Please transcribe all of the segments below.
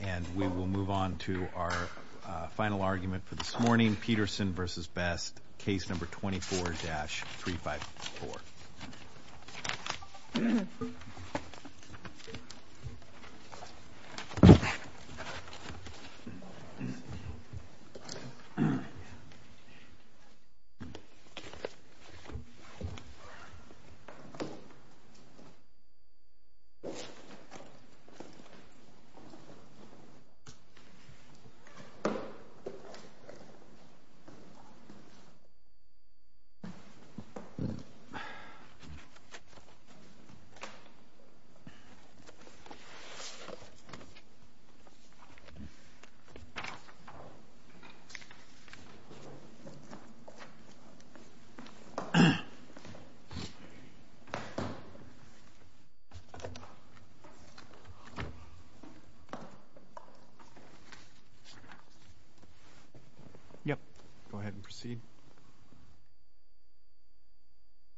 And we will move on to our final argument for this morning, Peterson v. Best, case number 24-354. Let's move on to our final argument for this morning,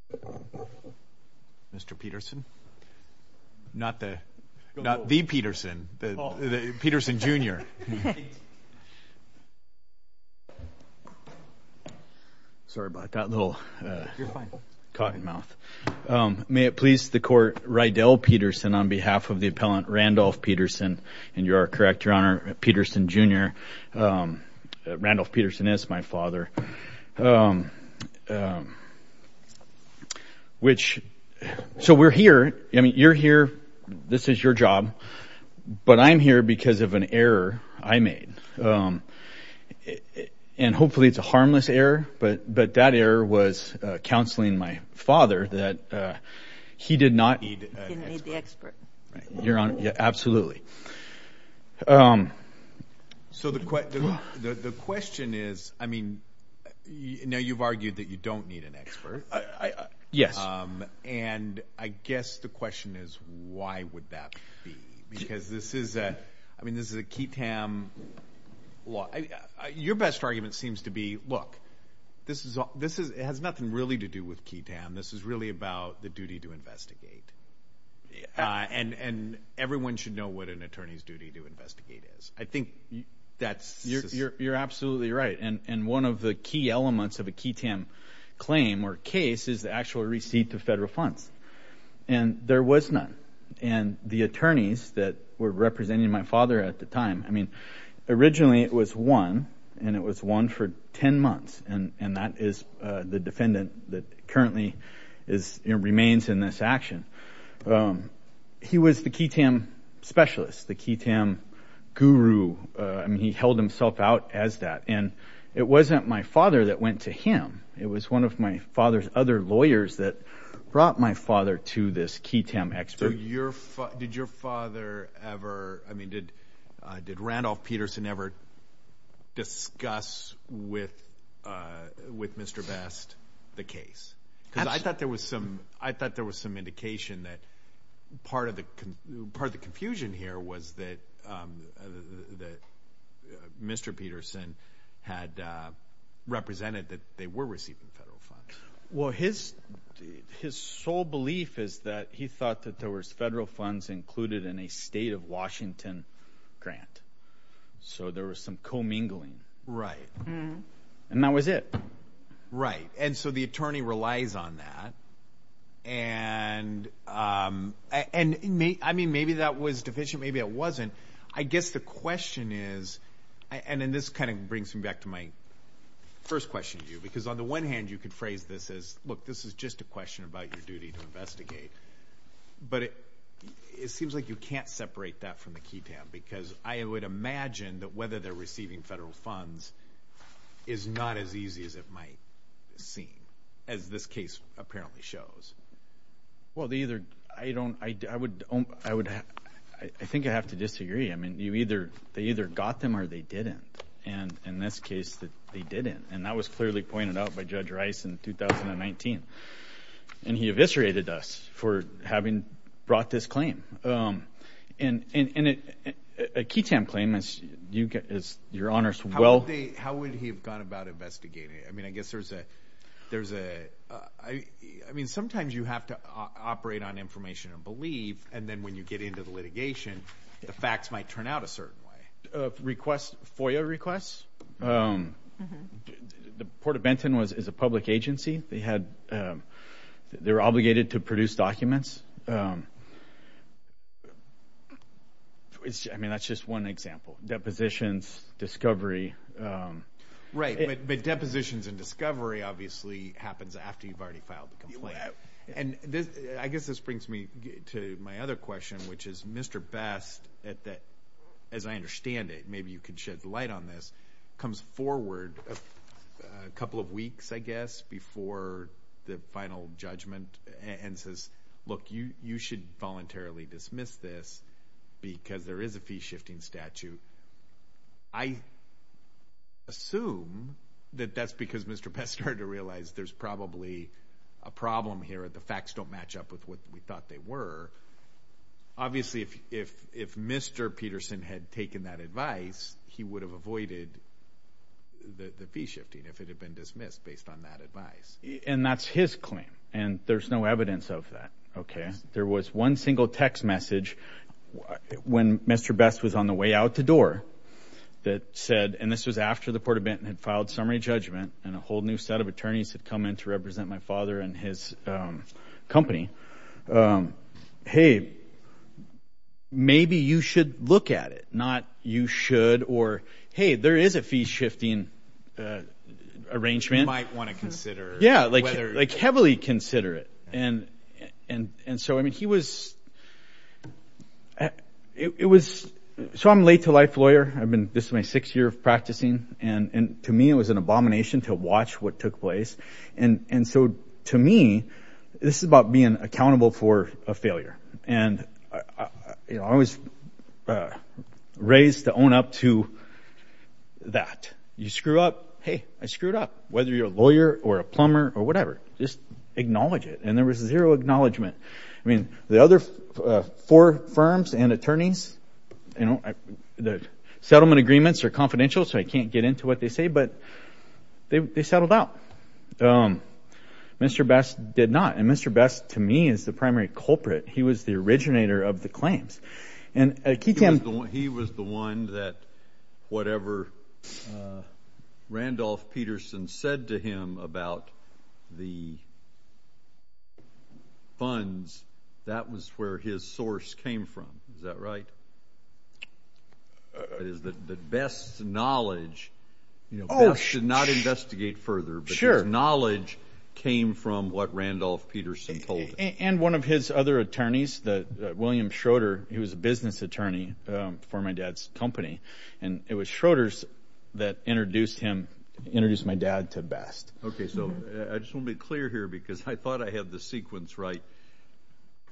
Peterson v. Best, case number 24-354. May it please the Court, Rydell Peterson, on behalf of the Appellant Randolph Peterson, and you are correct, Your Honor, Peterson Jr., Randolph Peterson is my father, which... So we're here, I mean, you're here, this is your job, but I'm here because of an error I made. And hopefully it's a harmless error, but that error was counseling my father that he did not... He didn't need the expert. Right, Your Honor, absolutely. So the question is, I mean, you know, you've argued that you don't need an expert. And I guess the question is, why would that be? Because this is a, I mean, this is a QTAM law. Your best argument seems to be, look, this has nothing really to do with QTAM. This is really about the duty to investigate. And everyone should know what an attorney's duty to investigate is. I think that's... You're absolutely right. And one of the key elements of a QTAM claim or case is the actual receipt of federal funds. And there was none. And the attorneys that were representing my father at the time, I mean, originally it was one, and it was one for ten months. And that is the defendant that currently remains in this action. He was the QTAM specialist, the QTAM guru. I mean, he held himself out as that. And it wasn't my father that went to him. It was one of my father's other lawyers that brought my father to this QTAM expert. Did your father ever, I mean, did Randolph Peterson ever discuss with Mr. Best the case? Because I thought there was some indication that part of the confusion here was that Mr. Peterson had represented that they were receiving federal funds. Well, his sole belief is that he thought that there was federal funds included in a state of Washington grant. So there was some commingling. And that was it. Right. And so the attorney relies on that. And, I mean, maybe that was deficient, maybe it wasn't. I guess the question is, and this kind of brings me back to my first question to you, because on the one hand, you could phrase this as, look, this is just a question about your duty to investigate. But it seems like you can't separate that from the QTAM, because I would imagine that whether they're receiving federal funds is not as easy as it might seem, as this case apparently shows. Well, I think I have to disagree. I mean, they either got them or they didn't. And in this case, they didn't. And that was clearly pointed out by Judge Rice in 2019. And he eviscerated us for having brought this claim. And a QTAM claim, as your Honors will— How would he have gone about investigating it? I mean, I guess there's a—I mean, sometimes you have to operate on information and belief, and then when you get into the litigation, the facts might turn out a certain way. Request—FOIA requests? The Port of Benton is a public agency. They had—they were obligated to produce documents. I mean, that's just one example. Depositions, discovery. Right, but depositions and discovery obviously happens after you've already filed the complaint. And I guess this brings me to my other question, which is Mr. Best, as I understand it, and maybe you can shed light on this, comes forward a couple of weeks, I guess, before the final judgment and says, look, you should voluntarily dismiss this because there is a fee-shifting statute. I assume that that's because Mr. Best started to realize there's probably a problem here. The facts don't match up with what we thought they were. Obviously, if Mr. Peterson had taken that advice, he would have avoided the fee-shifting if it had been dismissed based on that advice. And that's his claim, and there's no evidence of that. There was one single text message when Mr. Best was on the way out the door that said— and this was after the Port of Benton had filed summary judgment and a whole new set of attorneys had come in to represent my father and his company. Hey, maybe you should look at it, not you should or, hey, there is a fee-shifting arrangement. You might want to consider whether— Yeah, like heavily consider it. And so, I mean, he was— So I'm a late-to-life lawyer. I've been—this is my sixth year of practicing. And to me, it was an abomination to watch what took place. And so to me, this is about being accountable for a failure. And I was raised to own up to that. You screw up, hey, I screw it up, whether you're a lawyer or a plumber or whatever. Just acknowledge it. And there was zero acknowledgement. I mean, the other four firms and attorneys, you know, the settlement agreements are confidential, so I can't get into what they say, but they settled out. Mr. Best did not. And Mr. Best, to me, is the primary culprit. He was the originator of the claims. He was the one that whatever Randolph Peterson said to him about the funds, that was where his source came from. Is that right? The best knowledge—Best did not investigate further, but his knowledge came from what Randolph Peterson told him. And one of his other attorneys, William Schroeder, he was a business attorney for my dad's company. And it was Schroeder's that introduced my dad to Best. Okay, so I just want to be clear here because I thought I had the sequence right.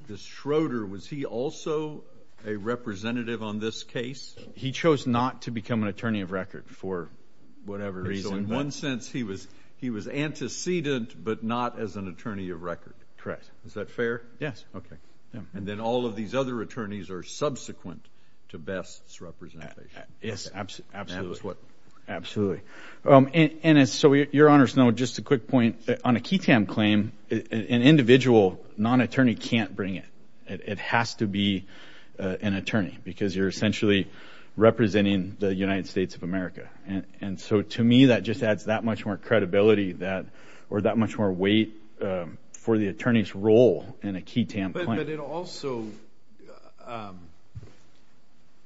This Schroeder, was he also a representative on this case? He chose not to become an attorney of record for whatever reason. So in one sense, he was antecedent but not as an attorney of record. Correct. Is that fair? Yes. Okay. And then all of these other attorneys are subsequent to Best's representation. Yes, absolutely. And that was what— Absolutely. And so, Your Honors, no, just a quick point. On a QITAM claim, an individual non-attorney can't bring it. It has to be an attorney because you're essentially representing the United States of America. And so, to me, that just adds that much more credibility or that much more weight for the attorney's role in a QITAM claim. But it also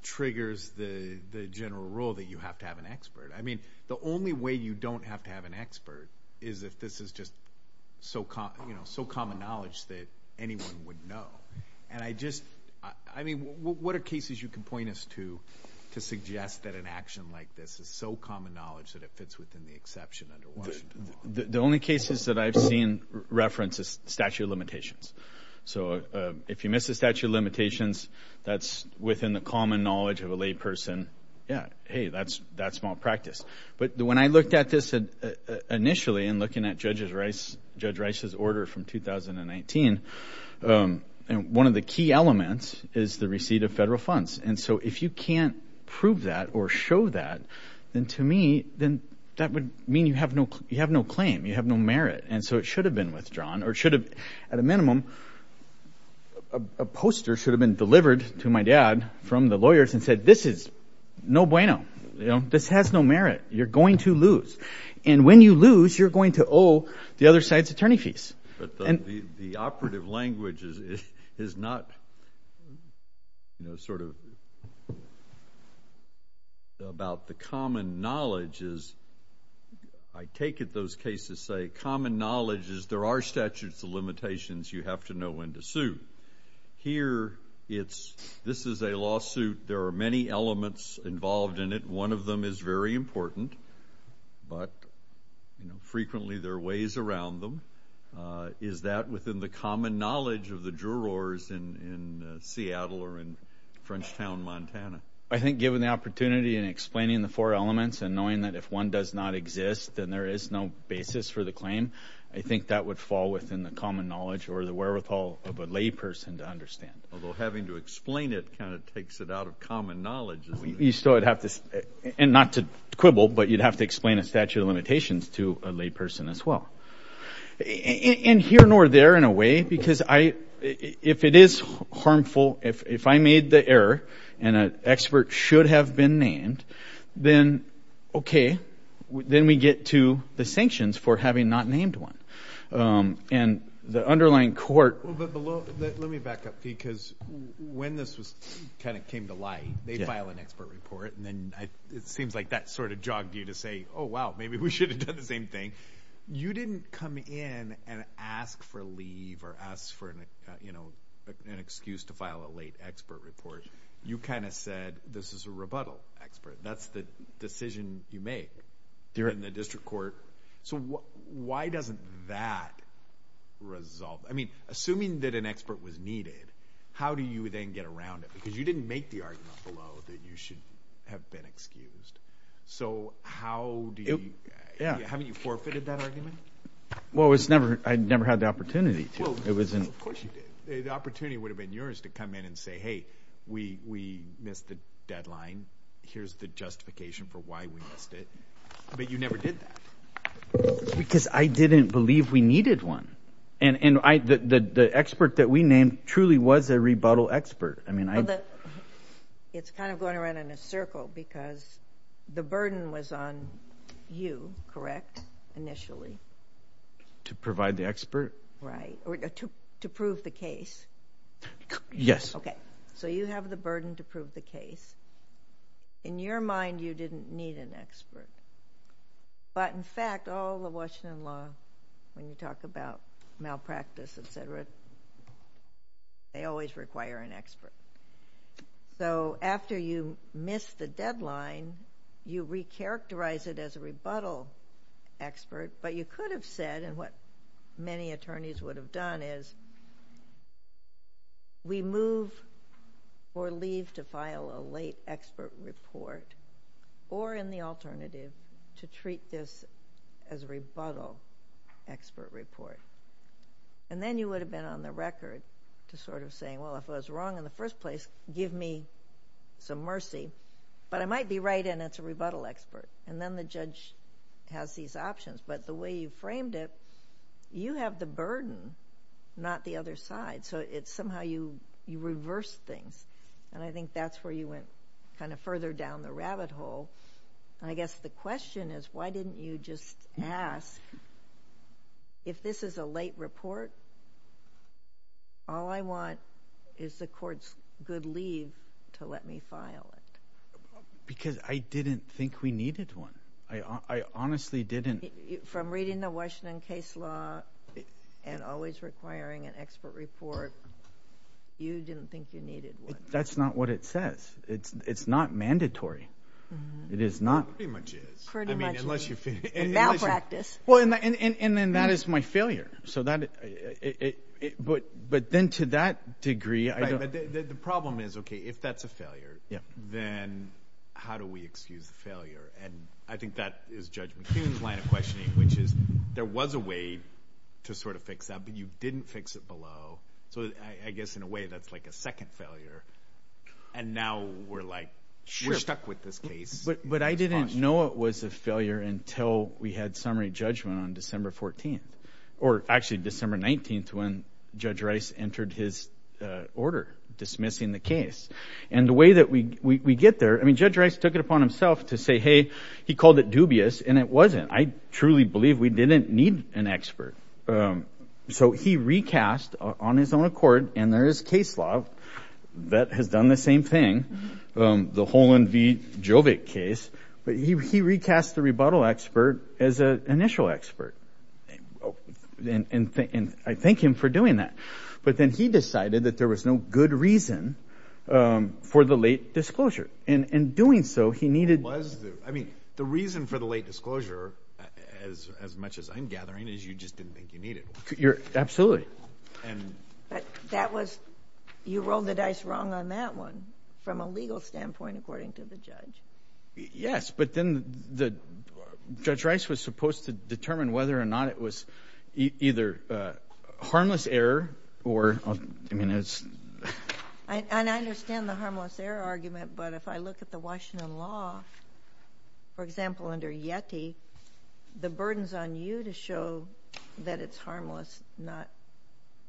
triggers the general rule that you have to have an expert. I mean, the only way you don't have to have an expert is if this is just so common knowledge that anyone would know. And I just—I mean, what are cases you can point us to to suggest that an action like this is so common knowledge that it fits within the exception under Washington law? The only cases that I've seen reference is statute of limitations. So if you miss a statute of limitations that's within the common knowledge of a layperson, yeah, hey, that's malpractice. But when I looked at this initially in looking at Judge Rice's order from 2019, one of the key elements is the receipt of federal funds. And so if you can't prove that or show that, then to me, then that would mean you have no claim. You have no merit. And so it should have been withdrawn or it should have—at a minimum, a poster should have been delivered to my dad from the lawyers and said, this is no bueno. This has no merit. You're going to lose. And when you lose, you're going to owe the other side's attorney fees. But the operative language is not sort of about the common knowledge is—I take it those cases say common knowledge is there are statutes of limitations. You have to know when to sue. Here it's—this is a lawsuit. There are many elements involved in it. One of them is very important, but frequently there are ways around them. Is that within the common knowledge of the jurors in Seattle or in Frenchtown, Montana? I think given the opportunity in explaining the four elements and knowing that if one does not exist, then there is no basis for the claim, I think that would fall within the common knowledge or the wherewithal of a layperson to understand. Although having to explain it kind of takes it out of common knowledge, doesn't it? You still would have to—and not to quibble, but you'd have to explain a statute of limitations to a layperson as well. And here nor there in a way because I—if it is harmful, if I made the error and an expert should have been named, then okay. Then we get to the sanctions for having not named one. And the underlying court— Well, but below—let me back up because when this was kind of came to light, they file an expert report, and then it seems like that sort of jogged you to say, oh, wow, maybe we should have done the same thing. You didn't come in and ask for leave or ask for an excuse to file a late expert report. You kind of said this is a rebuttal expert. That's the decision you make in the district court. So why doesn't that resolve—I mean, assuming that an expert was needed, how do you then get around it? Because you didn't make the argument below that you should have been excused. So how do you—haven't you forfeited that argument? Well, I never had the opportunity to. Of course you did. The opportunity would have been yours to come in and say, hey, we missed the deadline. Here's the justification for why we missed it. But you never did that. Because I didn't believe we needed one. And the expert that we named truly was a rebuttal expert. It's kind of going around in a circle because the burden was on you, correct, initially? To provide the expert? Right. To prove the case. Yes. Okay. So you have the burden to prove the case. In your mind, you didn't need an expert. But in fact, all the Washington law, when you talk about malpractice, et cetera, they always require an expert. So after you missed the deadline, you recharacterize it as a rebuttal expert. But you could have said, and what many attorneys would have done is, we move or leave to file a late expert report or in the alternative to treat this as a rebuttal expert report. And then you would have been on the record to sort of saying, well, if it was wrong in the first place, give me some mercy. But I might be right and it's a rebuttal expert. And then the judge has these options. But the way you framed it, you have the burden, not the other side. So it's somehow you reverse things. And I think that's where you went kind of further down the rabbit hole. And I guess the question is, why didn't you just ask, if this is a late report, all I want is the court's good leave to let me file it? Because I didn't think we needed one. I honestly didn't. From reading the Washington case law and always requiring an expert report, you didn't think you needed one. That's not what it says. It's not mandatory. It is not. Pretty much is. Pretty much is. And now practice. And then that is my failure. But then to that degree, I don't. The problem is, okay, if that's a failure, then how do we excuse the failure? And I think that is Judge McHugh's line of questioning, which is there was a way to sort of fix that, but you didn't fix it below. So I guess in a way that's like a second failure. And now we're like, we're stuck with this case. But I didn't know it was a failure until we had summary judgment on December 14th. Or actually December 19th when Judge Rice entered his order dismissing the case. And the way that we get there, I mean, Judge Rice took it upon himself to say, hey, he called it dubious, and it wasn't. I truly believe we didn't need an expert. So he recast on his own accord, and there is case law that has done the same thing, the Holand v. Jovik case. But he recast the rebuttal expert as an initial expert. And I thank him for doing that. But then he decided that there was no good reason for the late disclosure. And in doing so, he needed – I mean, the reason for the late disclosure, as much as I'm gathering, is you just didn't think you needed one. Absolutely. But that was – you rolled the dice wrong on that one from a legal standpoint, according to the judge. Yes, but then the – Judge Rice was supposed to determine whether or not it was either harmless error or – I mean, it's – And I understand the harmless error argument, but if I look at the Washington law, for example, under Yeti, the burden's on you to show that it's harmless, not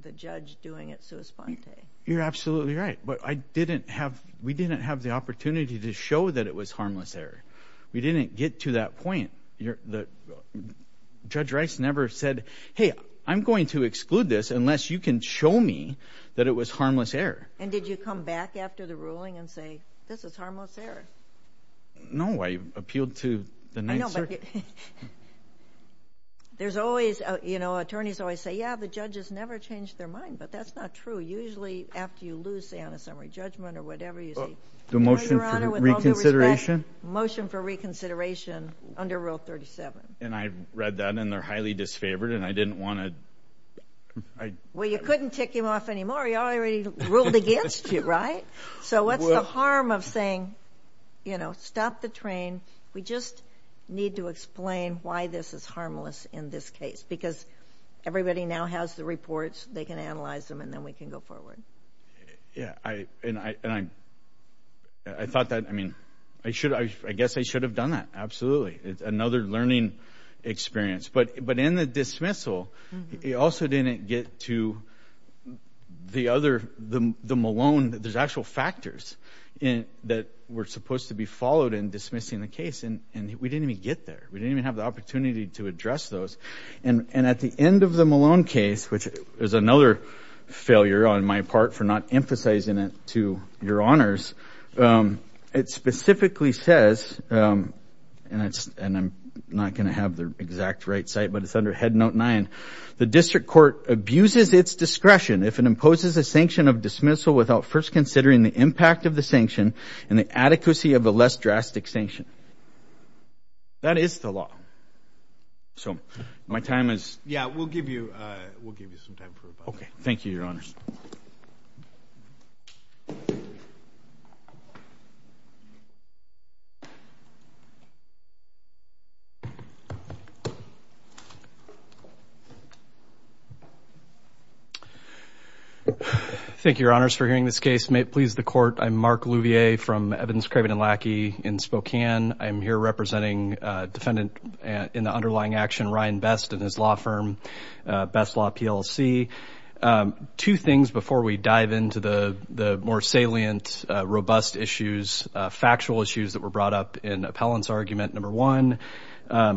the judge doing it sua sponte. You're absolutely right. But I didn't have – we didn't have the opportunity to show that it was harmless error. We didn't get to that point. Judge Rice never said, hey, I'm going to exclude this unless you can show me that it was harmless error. And did you come back after the ruling and say, this is harmless error? No, I appealed to the Ninth Circuit. I know, but there's always – you know, attorneys always say, yeah, the judges never change their mind, but that's not true. Usually after you lose, say, on a summary judgment or whatever, you say – The motion for reconsideration? Your Honor, with all due respect, motion for reconsideration under Rule 37. And I read that, and they're highly disfavored, and I didn't want to – Well, you couldn't tick him off anymore. He already ruled against you, right? So what's the harm of saying, you know, stop the train? We just need to explain why this is harmless in this case because everybody now has the reports. They can analyze them, and then we can go forward. Yeah, and I thought that – I mean, I guess I should have done that, absolutely. It's another learning experience. But in the dismissal, it also didn't get to the other – the Malone – there's actual factors that were supposed to be followed in dismissing the case, and we didn't even get there. We didn't even have the opportunity to address those. And at the end of the Malone case, which is another failure on my part for not emphasizing it to your honors, it specifically says – and I'm not going to have the exact right cite, but it's under Head Note 9 – the district court abuses its discretion if it imposes a sanction of dismissal without first considering the impact of the sanction and the adequacy of a less drastic sanction. That is the law. So my time is – Yeah, we'll give you some time for – Okay. Thank you, your honors. Thank you, your honors, for hearing this case. May it please the court, I'm Mark Louvier from Evidence, Craven & Lackey in Spokane. I'm here representing defendant in the underlying action, Ryan Best, and his law firm, Best Law, PLC. Two things before we dive into the more salient, robust issues, factual issues that were brought up in Appellant's argument. Number one,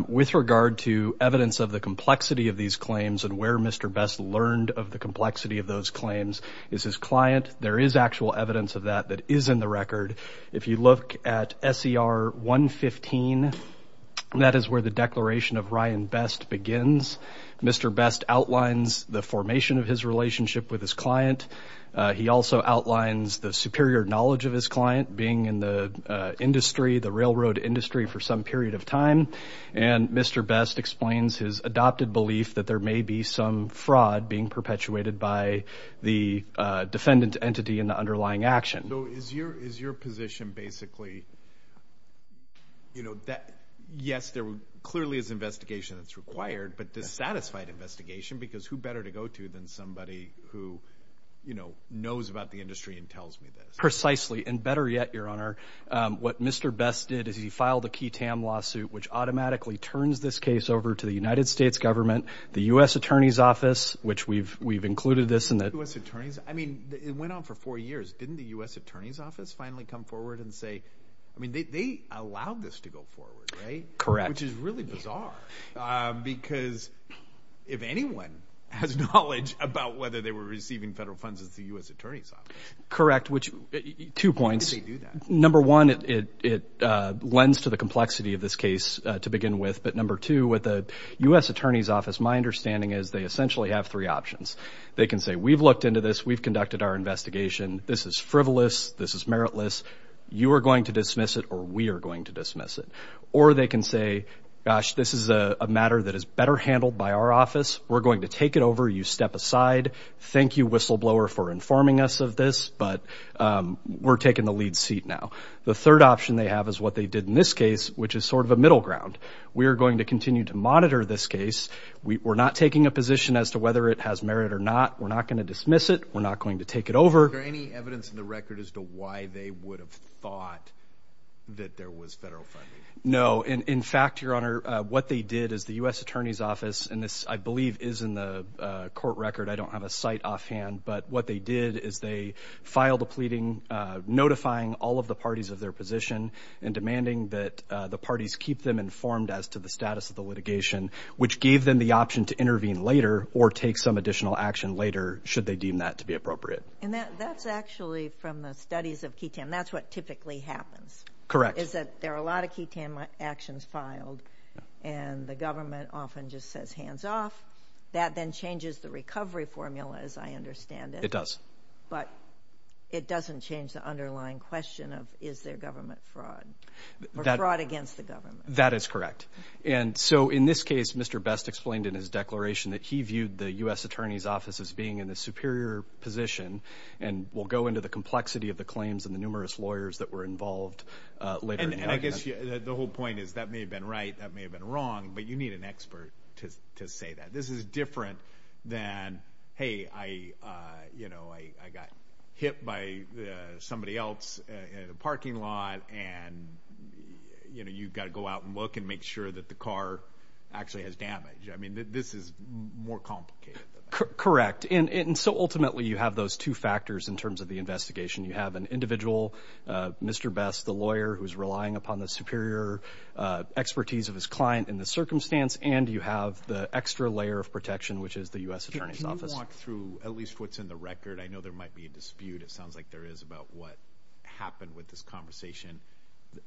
with regard to evidence of the complexity of these claims and where Mr. Best learned of the complexity of those claims is his client. There is actual evidence of that that is in the record. If you look at SER 115, that is where the declaration of Ryan Best begins. Mr. Best outlines the formation of his relationship with his client. He also outlines the superior knowledge of his client being in the industry, the railroad industry, for some period of time. And Mr. Best explains his adopted belief that there may be some fraud being perpetuated by the defendant entity in the underlying action. So is your position basically, you know, yes, there clearly is investigation that's required, but dissatisfied investigation, because who better to go to than somebody who, you know, knows about the industry and tells me this? Precisely, and better yet, Your Honor, what Mr. Best did is he filed a key TAM lawsuit which automatically turns this case over to the United States government, the U.S. Attorney's Office, which we've included this in the… The U.S. Attorney's, I mean, it went on for four years. Didn't the U.S. Attorney's Office finally come forward and say, I mean, they allowed this to go forward, right? Correct. Which is really bizarre, because if anyone has knowledge about whether they were receiving federal funds, it's the U.S. Attorney's Office. Correct, which, two points. How did they do that? Number one, it lends to the complexity of this case to begin with, but number two, with the U.S. Attorney's Office, my understanding is they essentially have three options. They can say, we've looked into this, we've conducted our investigation, this is frivolous, this is meritless, you are going to dismiss it or we are going to dismiss it. Or they can say, gosh, this is a matter that is better handled by our office, we're going to take it over, you step aside, thank you, whistleblower, for informing us of this, but we're taking the lead seat now. The third option they have is what they did in this case, which is sort of a middle ground. We are going to continue to monitor this case. We're not taking a position as to whether it has merit or not. We're not going to dismiss it. We're not going to take it over. Is there any evidence in the record as to why they would have thought that there was federal funding? No. In fact, Your Honor, what they did is the U.S. Attorney's Office, and this I believe is in the court record, I don't have a site offhand, but what they did is they filed a pleading notifying all of the parties of their position and demanding that the parties keep them informed as to the status of the litigation, which gave them the option to intervene later or take some additional action later, should they deem that to be appropriate. And that's actually from the studies of ketamine. That's what typically happens. Correct. Is that there are a lot of ketamine actions filed, and the government often just says hands off. That then changes the recovery formula, as I understand it. It does. But it doesn't change the underlying question of is there government fraud or fraud against the government. That is correct. And so in this case, Mr. Best explained in his declaration that he viewed the U.S. Attorney's Office as being in a superior position and will go into the complexity of the claims and the numerous lawyers that were involved later. And I guess the whole point is that may have been right, that may have been wrong, but you need an expert to say that. This is different than, hey, I got hit by somebody else in a parking lot and you've got to go out and look and make sure that the car actually has damage. I mean, this is more complicated than that. Correct. And so ultimately you have those two factors in terms of the investigation. You have an individual, Mr. Best, the lawyer, who is relying upon the superior expertise of his client in this circumstance, and you have the extra layer of protection, which is the U.S. Attorney's Office. Can you walk through at least what's in the record? I know there might be a dispute. It sounds like there is about what happened with this conversation,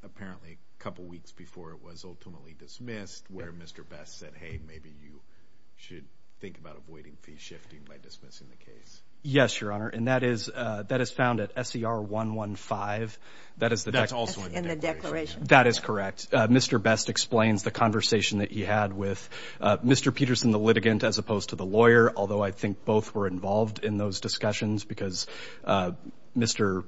apparently a couple weeks before it was ultimately dismissed, where Mr. Best said, hey, maybe you should think about avoiding fee shifting by dismissing the case. Yes, Your Honor, and that is found at SER 115. That's also in the declaration. That is correct. Mr. Best explains the conversation that he had with Mr. Peterson, the litigant, as opposed to the lawyer, although I think both were involved in those discussions because Mr.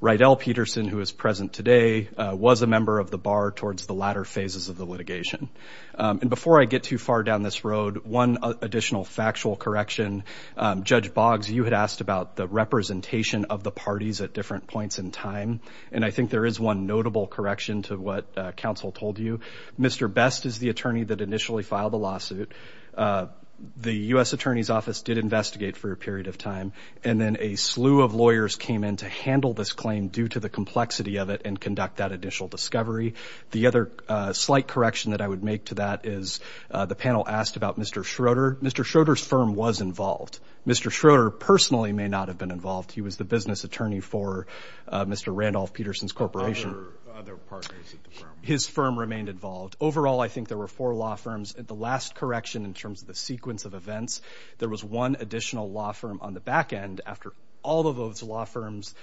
Rydell Peterson, who is present today, was a member of the bar towards the latter phases of the litigation. And before I get too far down this road, one additional factual correction. Judge Boggs, you had asked about the representation of the parties at different points in time, and I think there is one notable correction to what counsel told you. Mr. Best is the attorney that initially filed the lawsuit. The U.S. Attorney's Office did investigate for a period of time, and then a slew of lawyers came in to handle this claim due to the complexity of it and conduct that initial discovery. The other slight correction that I would make to that is the panel asked about Mr. Schroeder. Mr. Schroeder's firm was involved. Mr. Schroeder personally may not have been involved. He was the business attorney for Mr. Randolph Peterson's corporation. Other partners at the firm? His firm remained involved. Overall, I think there were four law firms. The last correction in terms of the sequence of events, there was one additional law firm on the back end, after all of those law firms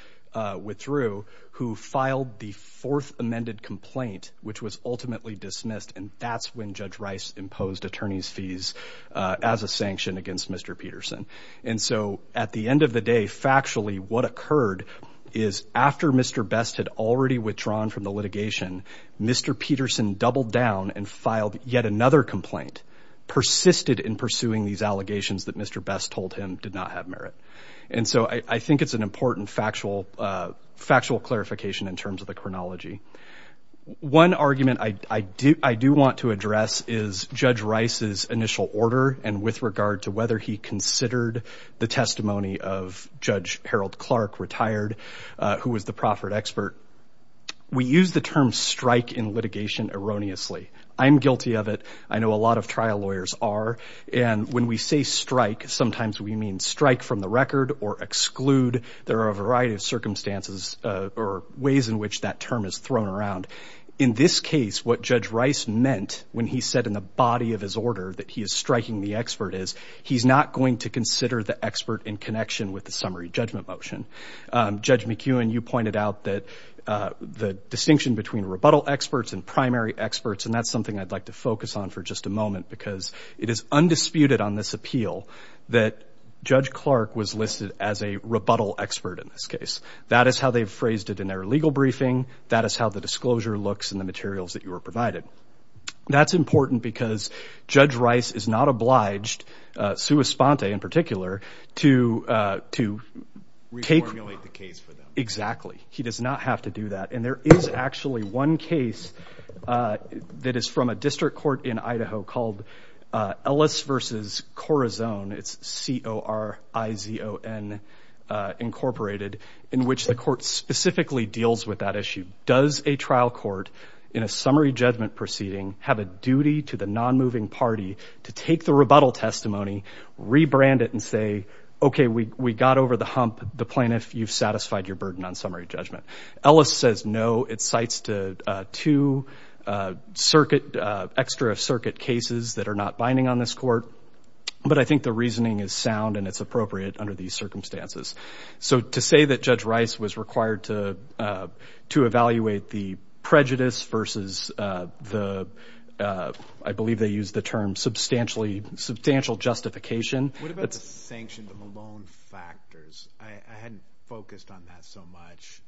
withdrew, who filed the fourth amended complaint, which was ultimately dismissed, and that's when Judge Rice imposed attorney's fees as a sanction against Mr. Peterson. And so at the end of the day, factually, what occurred is after Mr. Best had already withdrawn from the litigation, Mr. Peterson doubled down and filed yet another complaint, persisted in pursuing these allegations that Mr. Best told him did not have merit. And so I think it's an important factual clarification in terms of the chronology. One argument I do want to address is Judge Rice's initial order and with regard to whether he considered the testimony of Judge Harold Clark, retired, who was the proffered expert. We use the term strike in litigation erroneously. I'm guilty of it. I know a lot of trial lawyers are. And when we say strike, sometimes we mean strike from the record or exclude. There are a variety of circumstances or ways in which that term is thrown around. In this case, what Judge Rice meant when he said in the body of his order that he is striking the expert is he's not going to consider the expert in connection with the summary judgment motion. Judge McEwen, you pointed out that the distinction between rebuttal experts and primary experts, and that's something I'd like to focus on for just a moment, because it is undisputed on this appeal that Judge Clark was listed as a rebuttal expert in this case. That is how they've phrased it in their legal briefing. That is how the disclosure looks in the materials that you were provided. That's important because Judge Rice is not obliged, Sue Esponte in particular, to take. Reformulate the case for them. Exactly. He does not have to do that. And there is actually one case that is from a district court in Idaho called Ellis v. Corazon, it's C-O-R-I-Z-O-N, Incorporated, in which the court specifically deals with that issue. Does a trial court in a summary judgment proceeding have a duty to the nonmoving party to take the rebuttal testimony, rebrand it, and say, okay, we got over the hump. The plaintiff, you've satisfied your burden on summary judgment. Ellis says no. It cites two extra circuit cases that are not binding on this court, but I think the reasoning is sound and it's appropriate under these circumstances. So to say that Judge Rice was required to evaluate the prejudice versus the, I believe they use the term substantial justification. What about the sanctioned Malone factors? I hadn't focused on that so much.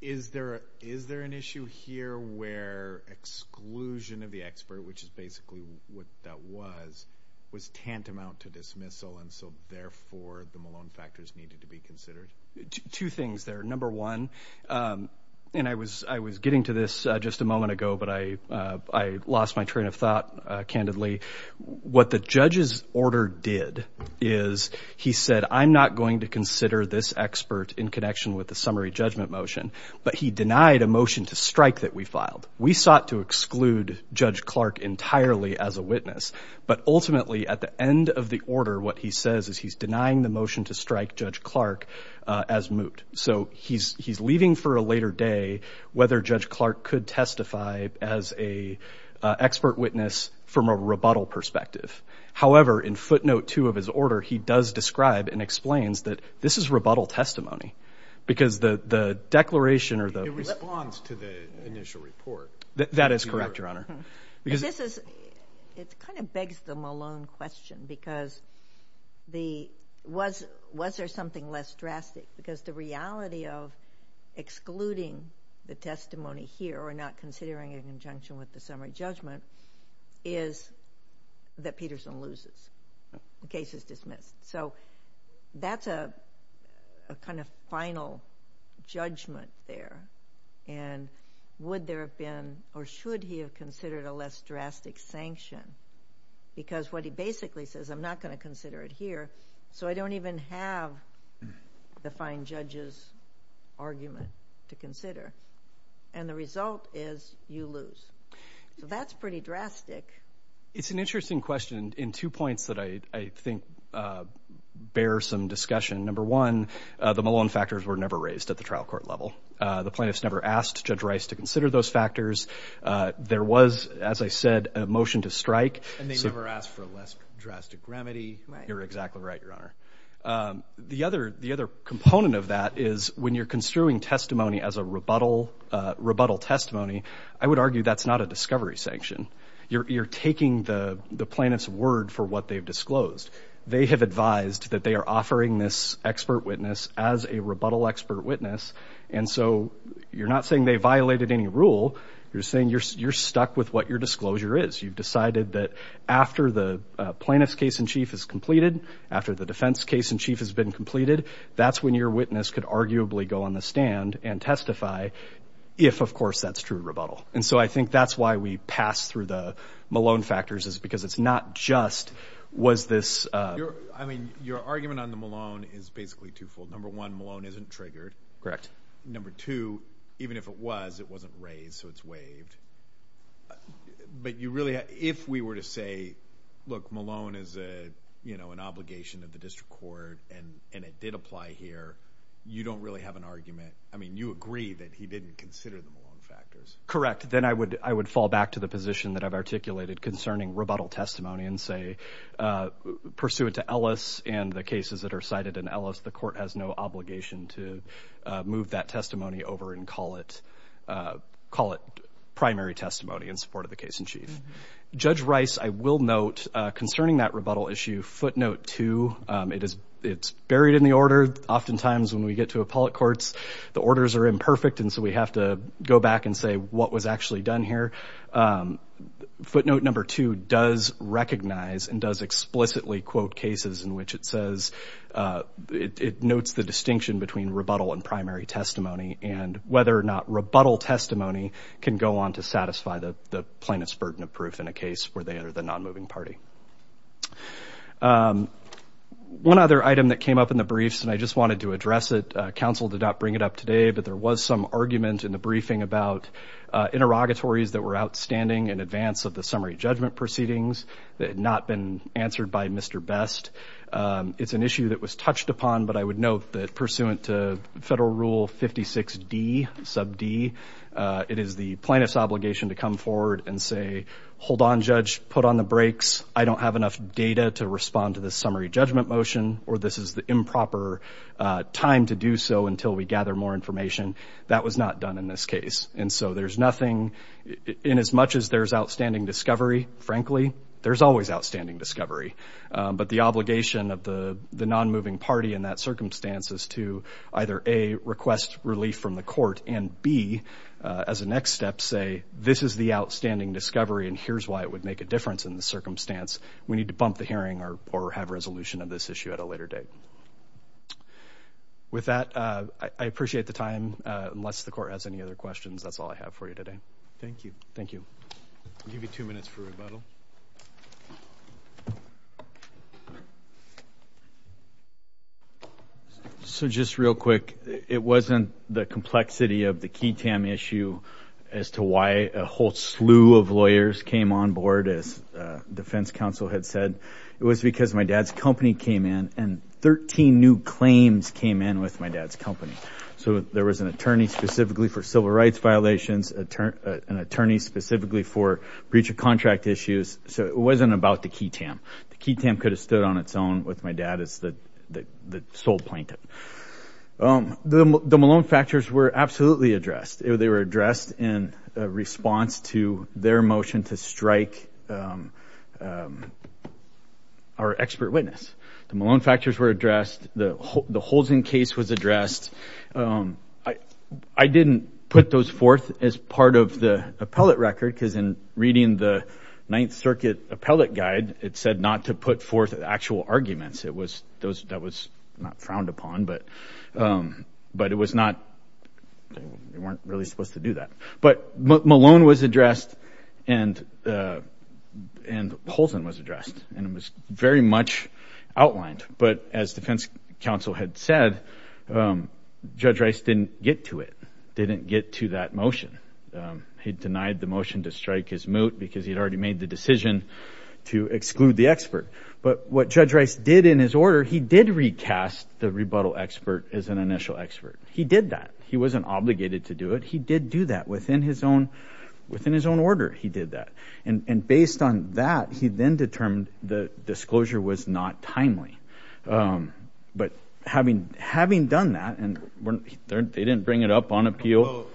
Is there an issue here where exclusion of the expert, which is basically what that was, was tantamount to dismissal and so, therefore, the Malone factors needed to be considered? Two things there. Number one, and I was getting to this just a moment ago, but I lost my train of thought candidly. What the judge's order did is he said, I'm not going to consider this expert in connection with the summary judgment motion, but he denied a motion to strike that we filed. We sought to exclude Judge Clark entirely as a witness, but ultimately at the end of the order, what he says is he's denying the motion to strike Judge Clark as moot. So he's leaving for a later day whether Judge Clark could testify as a expert witness from a rebuttal perspective. However, in footnote two of his order, he does describe and explains that this is rebuttal testimony because the declaration or the. It responds to the initial report. That is correct, Your Honor. It kind of begs the Malone question because was there something less drastic? Because the reality of excluding the testimony here or not considering it in conjunction with the summary judgment is that Peterson loses. The case is dismissed. So that's a kind of final judgment there. And would there have been or should he have considered a less drastic sanction? Because what he basically says, I'm not going to consider it here. So I don't even have the fine judge's argument to consider. And the result is you lose. So that's pretty drastic. It's an interesting question in two points that I think bear some discussion. Number one, the Malone factors were never raised at the trial court level. The plaintiffs never asked Judge Rice to consider those factors. There was, as I said, a motion to strike. And they never asked for a less drastic remedy. You're exactly right, Your Honor. The other component of that is when you're construing testimony as a rebuttal testimony, I would argue that's not a discovery sanction. You're taking the plaintiff's word for what they've disclosed. They have advised that they are offering this expert witness as a rebuttal expert witness. And so you're not saying they violated any rule. You're saying you're stuck with what your disclosure is. You've decided that after the plaintiff's case-in-chief is completed, after the defense case-in-chief has been completed, that's when your witness could arguably go on the stand and testify if, of course, that's true rebuttal. And so I think that's why we pass through the Malone factors is because it's not just was this- I mean, your argument on the Malone is basically twofold. Number one, Malone isn't triggered. Correct. Number two, even if it was, it wasn't raised, so it's waived. But you really- if we were to say, look, Malone is an obligation of the district court and it did apply here, you don't really have an argument. I mean, you agree that he didn't consider the Malone factors. Correct. Then I would fall back to the position that I've articulated concerning rebuttal testimony and say, pursuant to Ellis and the cases that are cited in Ellis, the court has no obligation to move that testimony over and call it primary testimony in support of the case-in-chief. Judge Rice, I will note, concerning that rebuttal issue, footnote two, it's buried in the order. Oftentimes when we get to appellate courts, the orders are imperfect, and so we have to go back and say what was actually done here. Footnote number two does recognize and does explicitly quote cases in which it says- it notes the distinction between rebuttal and primary testimony and whether or not rebuttal testimony can go on to satisfy the plaintiff's burden of proof in a case where they are the non-moving party. One other item that came up in the briefs, and I just wanted to address it, but there was some argument in the briefing about interrogatories that were outstanding in advance of the summary judgment proceedings that had not been answered by Mr. Best. It's an issue that was touched upon, but I would note that, pursuant to Federal Rule 56D, sub D, it is the plaintiff's obligation to come forward and say, hold on, Judge, put on the brakes. I don't have enough data to respond to this summary judgment motion, or this is the improper time to do so until we gather more information. That was not done in this case, and so there's nothing- inasmuch as there's outstanding discovery, frankly, there's always outstanding discovery, but the obligation of the non-moving party in that circumstance is to either A, request relief from the court, and B, as a next step, say this is the outstanding discovery, and here's why it would make a difference in the circumstance. We need to bump the hearing or have resolution of this issue at a later date. With that, I appreciate the time. Unless the court has any other questions, that's all I have for you today. Thank you. Thank you. I'll give you two minutes for rebuttal. So just real quick, it wasn't the complexity of the QI-TAM issue as to why a whole slew of lawyers came on board, as defense counsel had said. It was because my dad's company came in, and 13 new claims came in with my dad's company. So there was an attorney specifically for civil rights violations, an attorney specifically for breach of contract issues, so it wasn't about the QI-TAM. The QI-TAM could have stood on its own with my dad as the sole plaintiff. The Malone factors were absolutely addressed. They were addressed in response to their motion to strike our expert witness. The Malone factors were addressed. The Holzen case was addressed. I didn't put those forth as part of the appellate record because in reading the Ninth Circuit appellate guide, it said not to put forth actual arguments. That was not frowned upon, but we weren't really supposed to do that. But Malone was addressed and Holzen was addressed, and it was very much outlined. But as defense counsel had said, Judge Rice didn't get to it, didn't get to that motion. He denied the motion to strike his moot because he had already made the decision to exclude the expert. But what Judge Rice did in his order, he did recast the rebuttal expert as an initial expert. He did that. He wasn't obligated to do it. He did do that within his own order. He did that. And based on that, he then determined the disclosure was not timely. But having done that, and they didn't bring it up on appeal.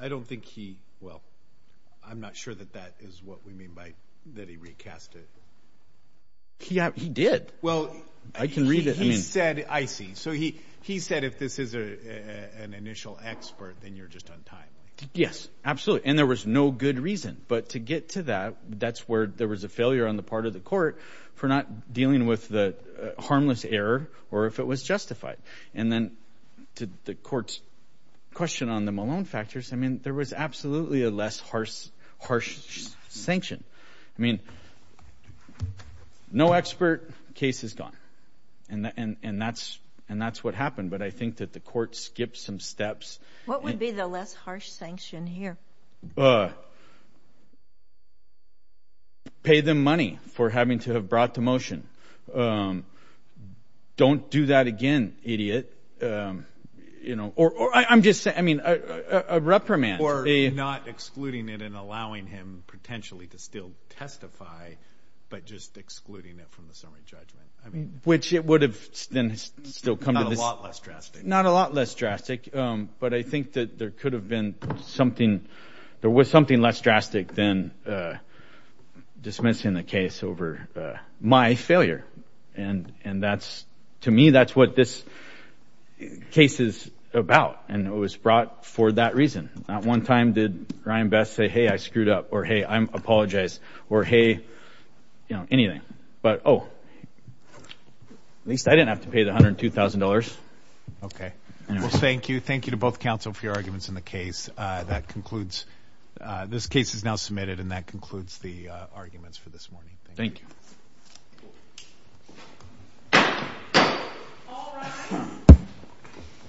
I don't think he, well, I'm not sure that that is what we mean by that he recast it. He did. I can read it. He said, I see. So he said if this is an initial expert, then you're just on time. Yes, absolutely, and there was no good reason. But to get to that, that's where there was a failure on the part of the court for not dealing with the harmless error or if it was justified. And then to the court's question on the Malone factors, I mean, there was absolutely a less harsh sanction. I mean, no expert, case is gone. And that's what happened. But I think that the court skipped some steps. What would be the less harsh sanction here? Pay them money for having to have brought to motion. Don't do that again, idiot. Or I'm just saying, I mean, a reprimand. Or not excluding it and allowing him potentially to still testify, but just excluding it from the summary judgment. Which it would have then still come to this. Not a lot less drastic. Not a lot less drastic. But I think that there could have been something. There was something less drastic than dismissing the case over my failure. And to me, that's what this case is about. And it was brought for that reason. Not one time did Ryan Best say, hey, I screwed up, or hey, I apologize, or hey, anything. But, oh, at least I didn't have to pay the $102,000. Okay. Well, thank you. Thank you to both counsel for your arguments in the case. That concludes. This case is now submitted, and that concludes the arguments for this morning. Thank you.